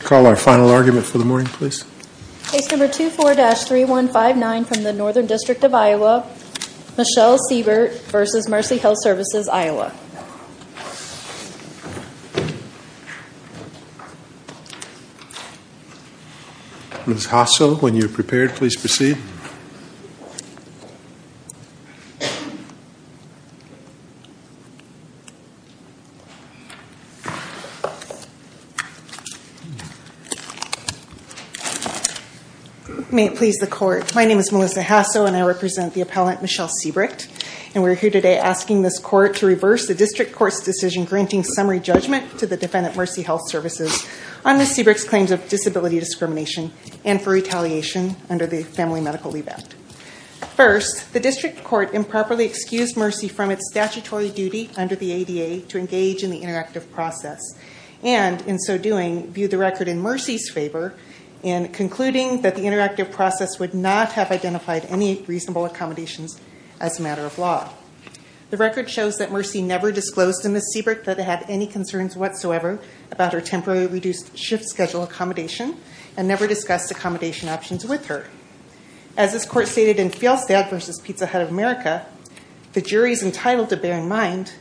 Call our final argument for the morning, please. Case number 24-3159 from the Northern District of Iowa, Michelle Siebrecht v. Mercy Health Services-Iowa. Ms. Hassell, when you're prepared, please proceed. May it please the Court. My name is Melissa Hassell and I represent the appellant Michelle Siebrecht. And we're here today asking this Court to reverse the District Court's decision granting summary judgment to the defendant, Mercy Health Services, on Ms. Siebrecht's claims of disability discrimination and for retaliation under the Family Medical Leave Act. First, the District Court improperly excused Mercy from its statutory duty under the ADA to engage in the interactive process and, in so doing, viewed the record in Mercy's favor in concluding that the interactive process would not have identified any reasonable accommodations as a matter of law. The record shows that Mercy never disclosed to Ms. Siebrecht that they had any concerns whatsoever about her temporarily reduced shift schedule accommodation and never discussed accommodation options with her. As this Court stated in Fjallstad v. Pizza Hut of America, the jury is entitled to bear in mind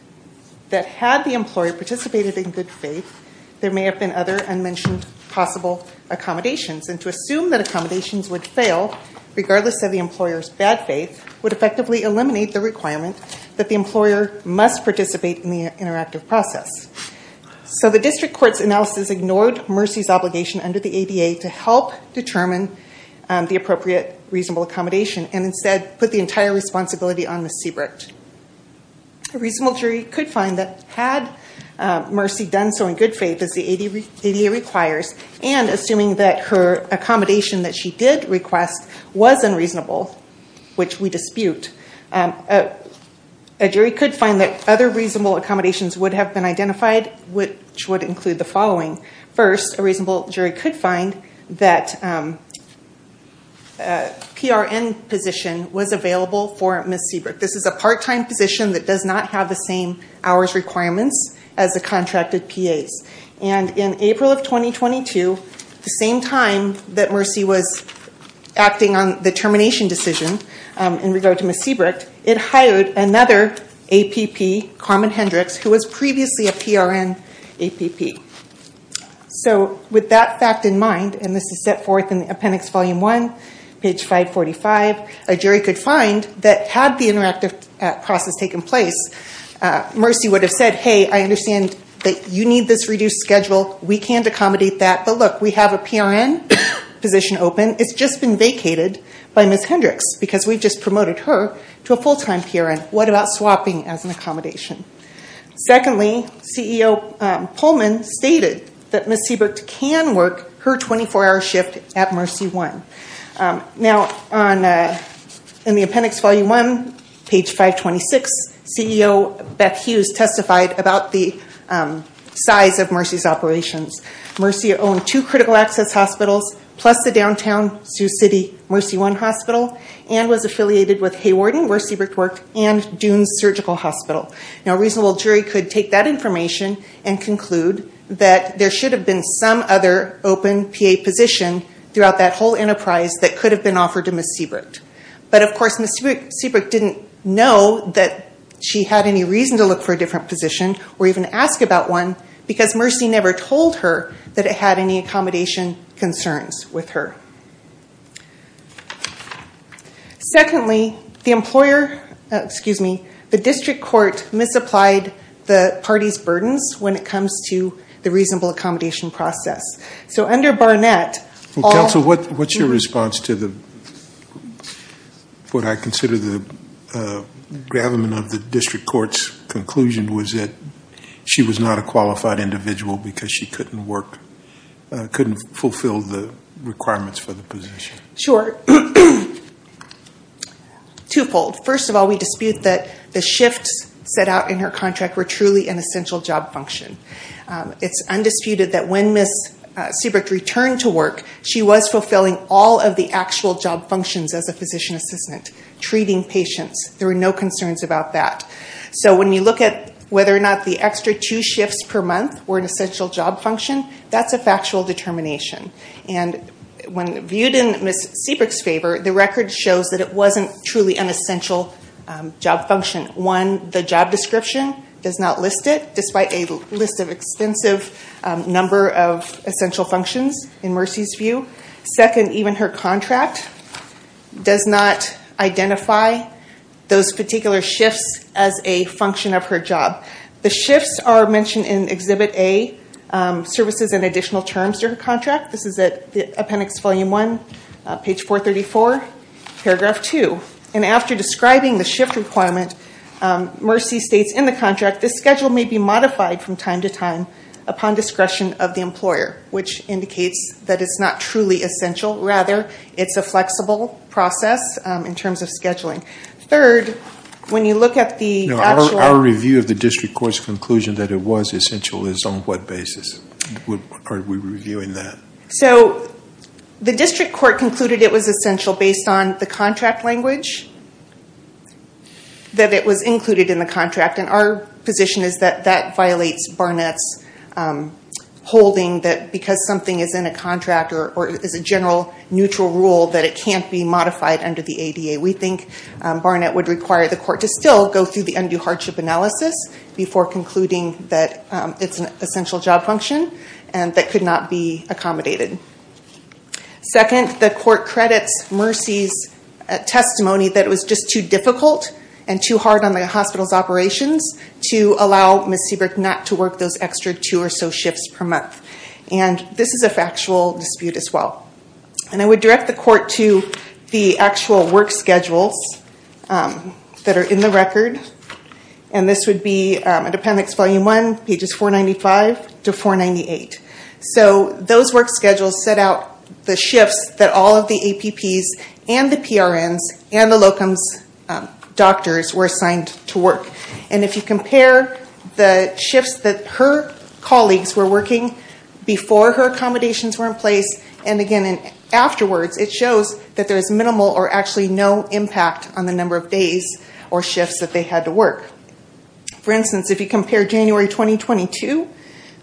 that had the employer participated in good faith, there may have been other unmentioned possible accommodations. And to assume that accommodations would fail, regardless of the employer's bad faith, would effectively eliminate the requirement that the employer must participate in the interactive process. So the District Court's analysis ignored Mercy's obligation under the ADA to help determine the appropriate reasonable accommodation and instead put the entire responsibility on Ms. Siebrecht. A reasonable jury could find that had Mercy done so in good faith, as the ADA requires, and assuming that her accommodation that she did request was unreasonable, which we dispute, a jury could find that other reasonable accommodations would have been identified, which would include the following. First, a reasonable jury could find that a PRN position was available for Ms. Siebrecht. This is a part-time position that does not have the same hours requirements as the contracted PAs. And in April of 2022, the same time that Mercy was acting on the termination decision in regard to Ms. Siebrecht, it hired another APP, Carmen Hendricks, who was previously a PRN APP. So with that fact in mind, and this is set forth in Appendix Volume 1, page 545, a jury could find that had the interactive process taken place, Mercy would have said, hey, I understand that you need this reduced schedule. We can't accommodate that. But look, we have a PRN position open. It's just been vacated by Ms. Hendricks because we've just promoted her to a full-time PRN. What about swapping as an accommodation? Secondly, CEO Pullman stated that Ms. Siebrecht can work her 24-hour shift at MercyOne. Now, in the Appendix Volume 1, page 526, CEO Beth Hughes testified about the size of Mercy's operations. Mercy owned two critical access hospitals, plus the downtown Sioux City MercyOne Hospital, and was affiliated with Haywarden, where Siebrecht worked, and Dunes Surgical Hospital. A reasonable jury could take that information and conclude that there should have been some other open PA position throughout that whole enterprise that could have been offered to Ms. Siebrecht. But, of course, Ms. Siebrecht didn't know that she had any reason to look for a different position, or even ask about one, because Mercy never told her that it had any accommodation concerns with her. Secondly, the district court misapplied the party's burdens when it comes to the reasonable accommodation process. So, under Barnett... Counsel, what's your response to what I consider the gravamen of the district court's conclusion, was that she was not a qualified individual because she couldn't work, couldn't fulfill the requirements for the position? Sure. Twofold. First of all, we dispute that the shifts set out in her contract were truly an essential job function. It's undisputed that when Ms. Siebrecht returned to work, she was fulfilling all of the actual job functions as a physician assistant. Treating patients. There were no concerns about that. So, when you look at whether or not the extra two shifts per month were an essential job function, that's a factual determination. And, when viewed in Ms. Siebrecht's favor, the record shows that it wasn't truly an essential job function. One, the job description does not list it, despite a list of extensive number of essential functions in Mercy's view. Second, even her contract does not identify those particular shifts as a function of her job. The shifts are mentioned in Exhibit A, Services and Additional Terms to Her Contract. This is at Appendix Volume 1, page 434, paragraph 2. And, after describing the shift requirement, Mercy states in the contract, this schedule may be modified from time to time upon discretion of the employer. Which indicates that it's not truly essential. Rather, it's a flexible process in terms of scheduling. Third, when you look at the actual... Our review of the district court's conclusion that it was essential is on what basis? Are we reviewing that? So, the district court concluded it was essential based on the contract language. That it was included in the contract. And, our position is that that violates Barnett's holding that because something is in a contract, or is a general neutral rule, that it can't be modified under the ADA. We think Barnett would require the court to still go through the undue hardship analysis before concluding that it's an essential job function and that could not be accommodated. Second, the court credits Mercy's testimony that it was just too difficult and too hard on the hospital's operations to allow Ms. Seabrook not to work those extra two or so shifts per month. And, this is a factual dispute as well. And, I would direct the court to the actual work schedules that are in the record. And, this would be appendix volume one, pages 495 to 498. So, those work schedules set out the shifts that all of the APPs and the PRNs and the locum's doctors were assigned to work. And, if you compare the shifts that her colleagues were working before her accommodations were in place, and again afterwards, it shows that there is minimal or actually no impact on the number of days or shifts that they had to work. For instance, if you compare January 2022,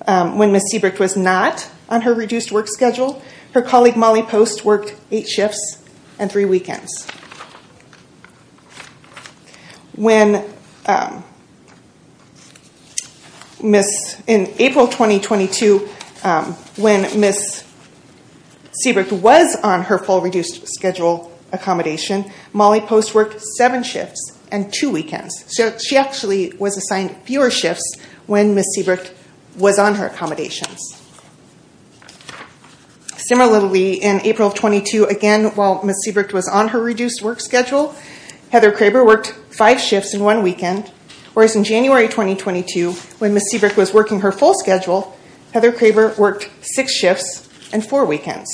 when Ms. Seabrook was not on her reduced work schedule, her colleague Molly Post worked eight shifts and three weekends. In April 2022, when Ms. Seabrook was on her full reduced schedule accommodation, Molly Post worked seven shifts and two weekends. So, she actually was assigned fewer shifts when Ms. Seabrook was on her accommodations. Similarly, in April 2022, again while Ms. Seabrook was on her reduced work schedule, Heather Craver worked five shifts and one weekend. Whereas, in January 2022, when Ms. Seabrook was working her full schedule, Heather Craver worked six shifts and four weekends.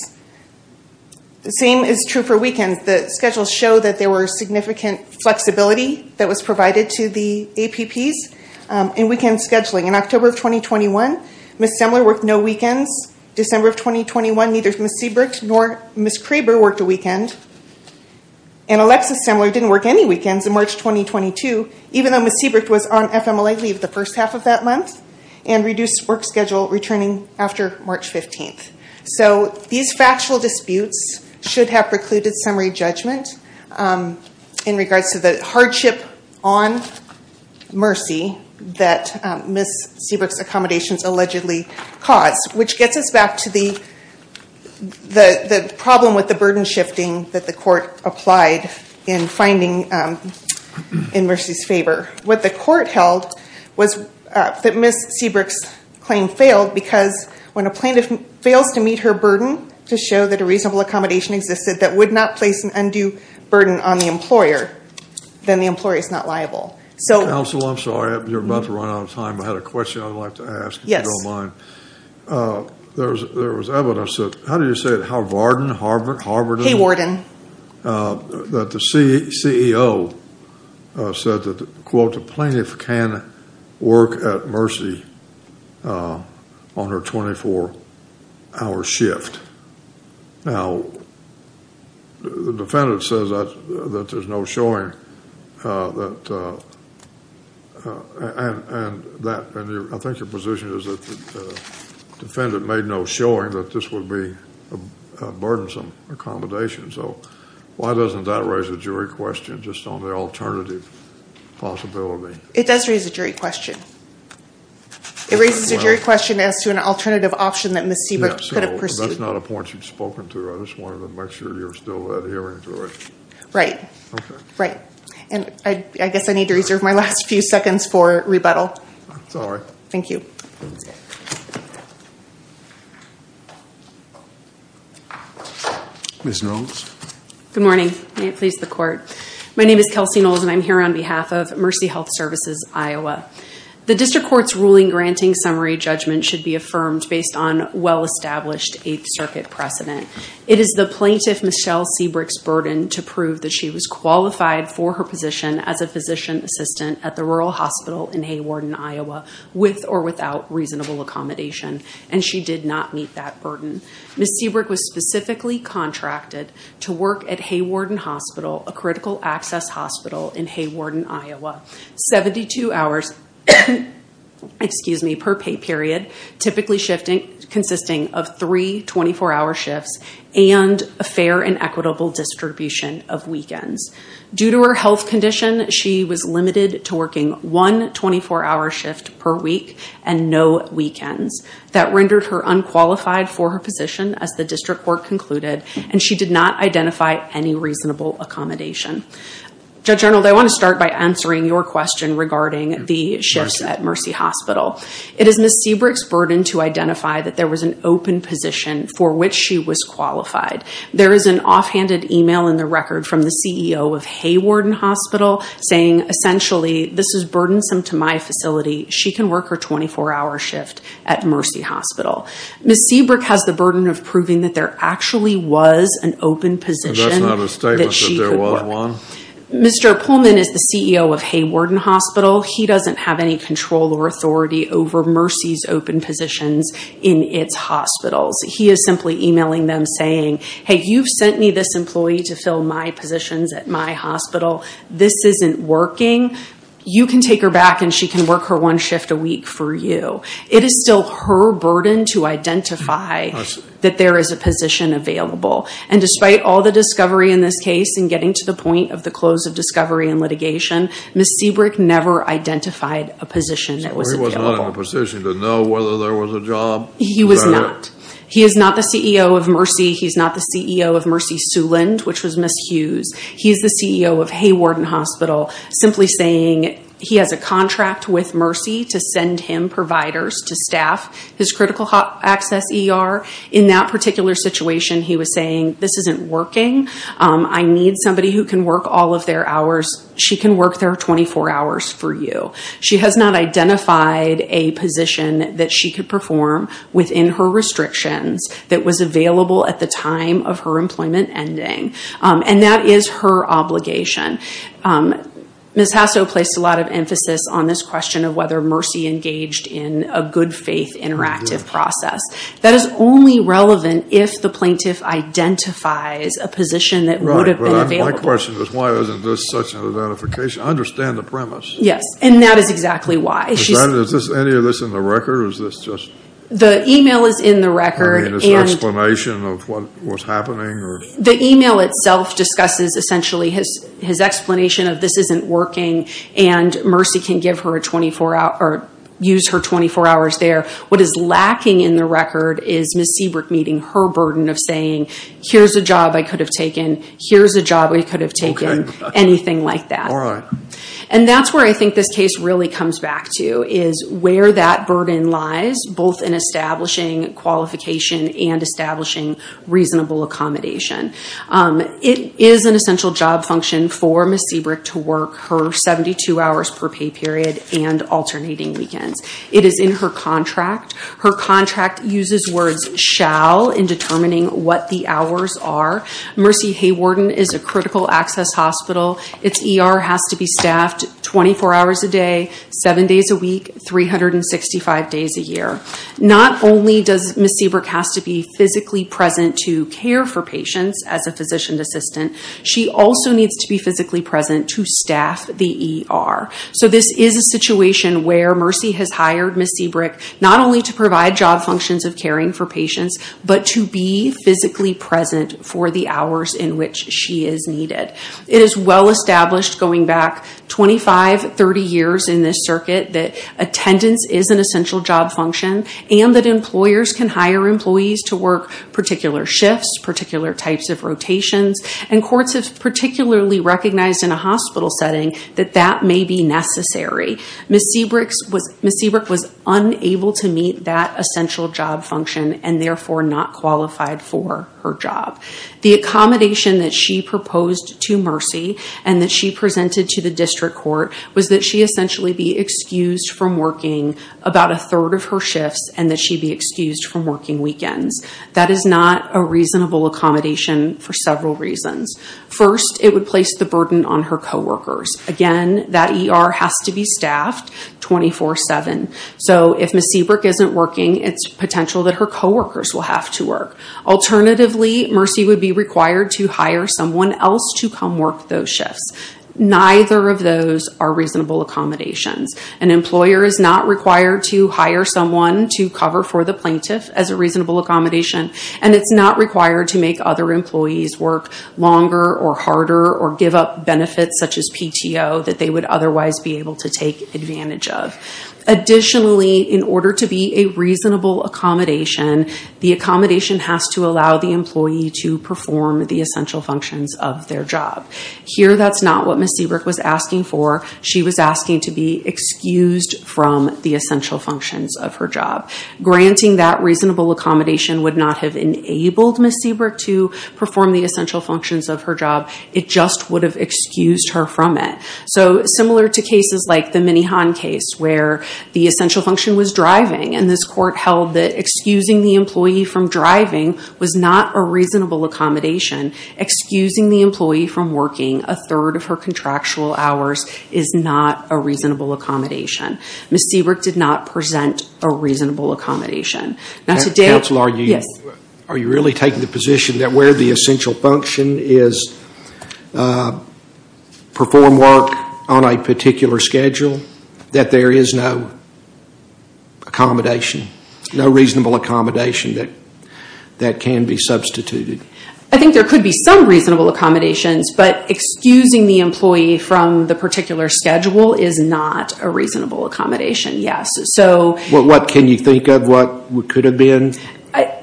The same is true for weekends. The schedules show that there was significant flexibility that was provided to the APPs in weekend scheduling. In October 2021, Ms. Semler worked no weekends. In December 2021, neither Ms. Seabrook nor Ms. Craver worked a weekend. And, Alexis Semler didn't work any weekends in March 2022, even though Ms. Seabrook was on FMLA leave the first half of that month and reduced work schedule returning after March 15th. So, these factual disputes should have precluded summary judgment in regards to the hardship on Mercy that Ms. Seabrook's accommodations allegedly caused, which gets us back to the problem with the burden shifting that the court applied in finding in Mercy's favor. What the court held was that Ms. Seabrook's claim failed because when a plaintiff fails to meet her burden to show that a reasonable accommodation existed that would not place an undue burden on the employer, then the employer is not liable. Counsel, I'm sorry, you're about to run out of time. I had a question I'd like to ask, if you don't mind. Yes. There was evidence that, how do you say it, Howard Warden? Haywarden. That the CEO said that, quote, the plaintiff can work at Mercy on her 24-hour shift. Now, the defendant says that there's no showing that, and I think your position is that the defendant made no showing that this would be a burdensome accommodation. So, why doesn't that raise a jury question just on the alternative possibility? It does raise a jury question. It raises a jury question as to an alternative option that Ms. Seabrook could have pursued. That's not a point you've spoken to. I just wanted to make sure you're still adhering to it. Right. Okay. Right. And I guess I need to reserve my last few seconds for rebuttal. That's all right. Thank you. Ms. Knowles. Good morning. May it please the court. My name is Kelsey Knowles, and I'm here on behalf of Mercy Health Services Iowa. The district court's ruling granting summary judgment should be affirmed based on well-established Eighth Circuit precedent. It is the plaintiff, Michelle Seabrook's, burden to prove that she was qualified for her position as a physician assistant at the rural hospital in Haywarden, Iowa, with or without reasonable accommodation, and she did not meet that burden. Ms. Seabrook was specifically contracted to work at Haywarden Hospital, a critical access hospital in Haywarden, Iowa, 72 hours per pay period, typically consisting of three 24-hour shifts and a fair and equitable distribution of weekends. Due to her health condition, she was limited to working one 24-hour shift per week and no weekends. That rendered her unqualified for her position, as the district court concluded, and she did not identify any reasonable accommodation. Judge Arnold, I want to start by answering your question regarding the shifts at Mercy Hospital. It is Ms. Seabrook's burden to identify that there was an open position for which she was qualified. There is an offhanded email in the record from the CEO of Haywarden Hospital saying, essentially, this is burdensome to my facility. She can work her 24-hour shift at Mercy Hospital. Ms. Seabrook has the burden of proving that there actually was an open position that she could work. Mr. Pullman is the CEO of Haywarden Hospital. He doesn't have any control or authority over Mercy's open positions in its hospitals. He is simply emailing them saying, hey, you've sent me this employee to fill my positions at my hospital. This isn't working. You can take her back and she can work her one shift a week for you. It is still her burden to identify that there is a position available. And despite all the discovery in this case and getting to the point of the close of discovery and litigation, Ms. Seabrook never identified a position that was available. So he was not in a position to know whether there was a job? He was not. He is not the CEO of Mercy. He is not the CEO of Mercy Suland, which was Ms. Hughes. He is the CEO of Haywarden Hospital, simply saying he has a contract with Mercy to send him providers to staff his critical access ER. In that particular situation, he was saying this isn't working. I need somebody who can work all of their hours. She can work their 24 hours for you. She has not identified a position that she could perform within her restrictions that was available at the time of her employment ending. And that is her obligation. Ms. Hasso placed a lot of emphasis on this question of whether Mercy engaged in a good faith interactive process. That is only relevant if the plaintiff identifies a position that would have been available. Right, but my question is why isn't this such an identification? I understand the premise. Yes, and that is exactly why. Is any of this in the record, or is this just? The email is in the record. I mean, is there an explanation of what was happening? The email itself discusses essentially his explanation of this isn't working, and Mercy can give her a 24-hour, or use her 24 hours there. What is lacking in the record is Ms. Seabrook meeting her burden of saying, here's a job I could have taken, here's a job we could have taken, anything like that. All right. And that's where I think this case really comes back to, is where that burden lies, both in establishing qualification and establishing reasonable accommodation. It is an essential job function for Ms. Seabrook to work her 72 hours per pay period and alternating weekends. It is in her contract. Her contract uses words shall in determining what the hours are. Mercy Haywarden is a critical access hospital. Its ER has to be staffed 24 hours a day, 7 days a week, 365 days a year. Not only does Ms. Seabrook have to be physically present to care for patients as a physician's assistant, she also needs to be physically present to staff the ER. So this is a situation where Mercy has hired Ms. Seabrook not only to provide job functions of caring for patients, but to be physically present for the hours in which she is needed. It is well established going back 25, 30 years in this circuit that attendance is an essential job function, and that employers can hire employees to work particular shifts, particular types of rotations. And courts have particularly recognized in a hospital setting that that may be necessary. Ms. Seabrook was unable to meet that essential job function and therefore not qualified for her job. The accommodation that she proposed to Mercy and that she presented to the district court was that she essentially be excused from working about a third of her shifts and that she be excused from working weekends. That is not a reasonable accommodation for several reasons. First, it would place the burden on her co-workers. Again, that ER has to be staffed 24-7. So if Ms. Seabrook isn't working, it's potential that her co-workers will have to work. Alternatively, Mercy would be required to hire someone else to come work those shifts. Neither of those are reasonable accommodations. An employer is not required to hire someone to cover for the plaintiff as a reasonable accommodation, and it's not required to make other employees work longer or harder or give up benefits such as PTO that they would otherwise be able to take advantage of. Additionally, in order to be a reasonable accommodation, the accommodation has to allow the employee to perform the essential functions of their job. Here, that's not what Ms. Seabrook was asking for. She was asking to be excused from the essential functions of her job. Granting that reasonable accommodation would not have enabled Ms. Seabrook to perform the essential functions of her job. It just would have excused her from it. So similar to cases like the Minnihan case where the essential function was driving, and this court held that excusing the employee from driving was not a reasonable accommodation, excusing the employee from working a third of her contractual hours is not a reasonable accommodation. Ms. Seabrook did not present a reasonable accommodation. Counsel, are you really taking the position that where the essential function is perform work on a particular schedule, that there is no accommodation, no reasonable accommodation that can be substituted? I think there could be some reasonable accommodations, but excusing the employee from the particular schedule is not a reasonable accommodation, yes. What can you think of? What could have been?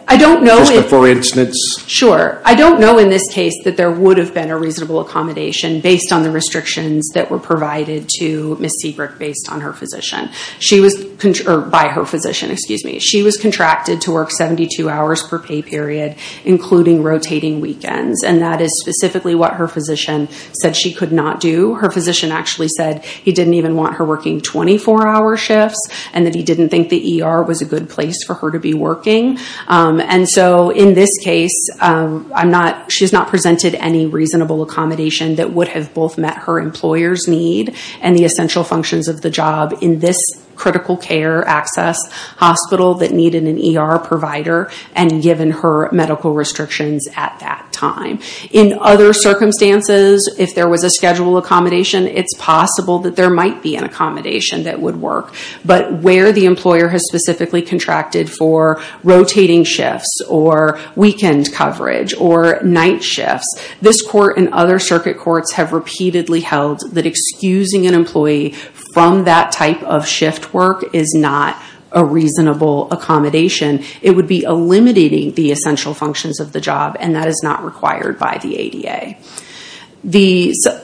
I don't know. Just a for instance? Sure. I don't know in this case that there would have been a reasonable accommodation based on the restrictions that were provided to Ms. Seabrook based on her physician. By her physician, excuse me. She was contracted to work 72 hours per pay period, including rotating weekends, and that is specifically what her physician said she could not do. Her physician actually said he didn't even want her working 24-hour shifts, and that he didn't think the ER was a good place for her to be working. And so in this case, she has not presented any reasonable accommodation that would have both met her employer's need and the essential functions of the job in this critical care access hospital that needed an ER provider and given her medical restrictions at that time. In other circumstances, if there was a schedule accommodation, it's possible that there might be an accommodation that would work. But where the employer has specifically contracted for rotating shifts or weekend coverage or night shifts, this court and other circuit courts have repeatedly held that excusing an employee from that type of shift work is not a reasonable accommodation. It would be eliminating the essential functions of the job, and that is not required by the ADA.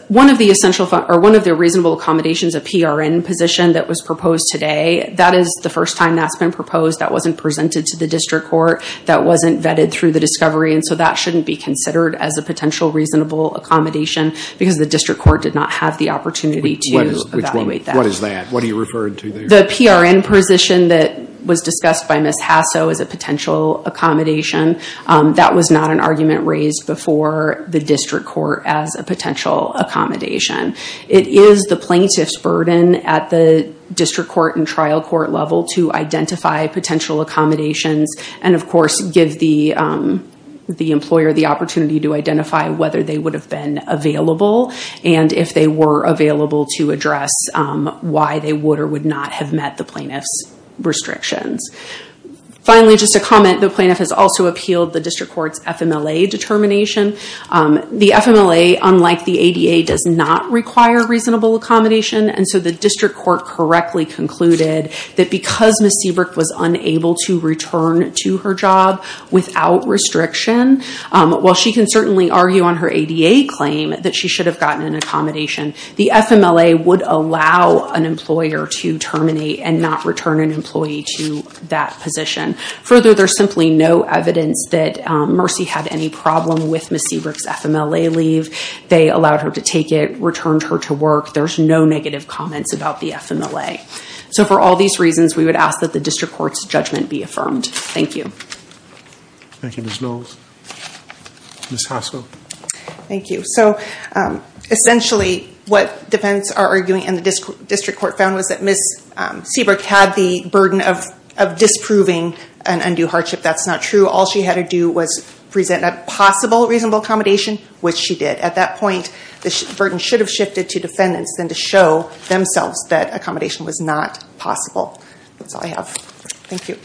One of the reasonable accommodations, a PRN position that was proposed today, that is the first time that's been proposed. That wasn't presented to the district court. That wasn't vetted through the discovery. And so that shouldn't be considered as a potential reasonable accommodation because the district court did not have the opportunity to evaluate that. What is that? What are you referring to there? The PRN position that was discussed by Ms. Hasso is a potential accommodation. That was not an argument raised before the district court as a potential accommodation. It is the plaintiff's burden at the district court and trial court level to identify potential accommodations and, of course, give the employer the opportunity to identify whether they would have been available and if they were available to address why they would or would not have met the plaintiff's restrictions. Finally, just a comment. The plaintiff has also appealed the district court's FMLA determination. The FMLA, unlike the ADA, does not require reasonable accommodation. And so the district court correctly concluded that because Ms. Seabrook was unable to return to her job without restriction, while she can certainly argue on her ADA claim that she should have gotten an accommodation, the FMLA would allow an employer to terminate and not return an employee to that position. Further, there's simply no evidence that Mercy had any problem with Ms. Seabrook's FMLA leave. They allowed her to take it, returned her to work. There's no negative comments about the FMLA. So for all these reasons, we would ask that the district court's judgment be affirmed. Thank you. Thank you, Ms. Knowles. Ms. Haskell. Thank you. So essentially what defendants are arguing and the district court found was that Ms. Seabrook had the burden of disproving an undue hardship. That's not true. All she had to do was present a possible reasonable accommodation, which she did. At that point, the burden should have shifted to defendants then to show themselves that accommodation was not possible. That's all I have. Thank you.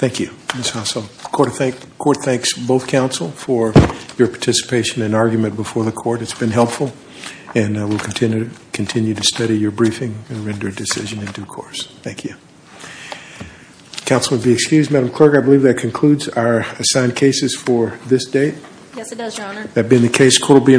Thank you, Ms. Haskell. The court thanks both counsel for your participation and argument before the court. It's been helpful, and we'll continue to study your briefing and render a decision in due course. Thank you. Counsel would be excused. Madam Clerk, I believe that concludes our assigned cases for this date. Yes, it does, Your Honor. That being the case, court will be in recess.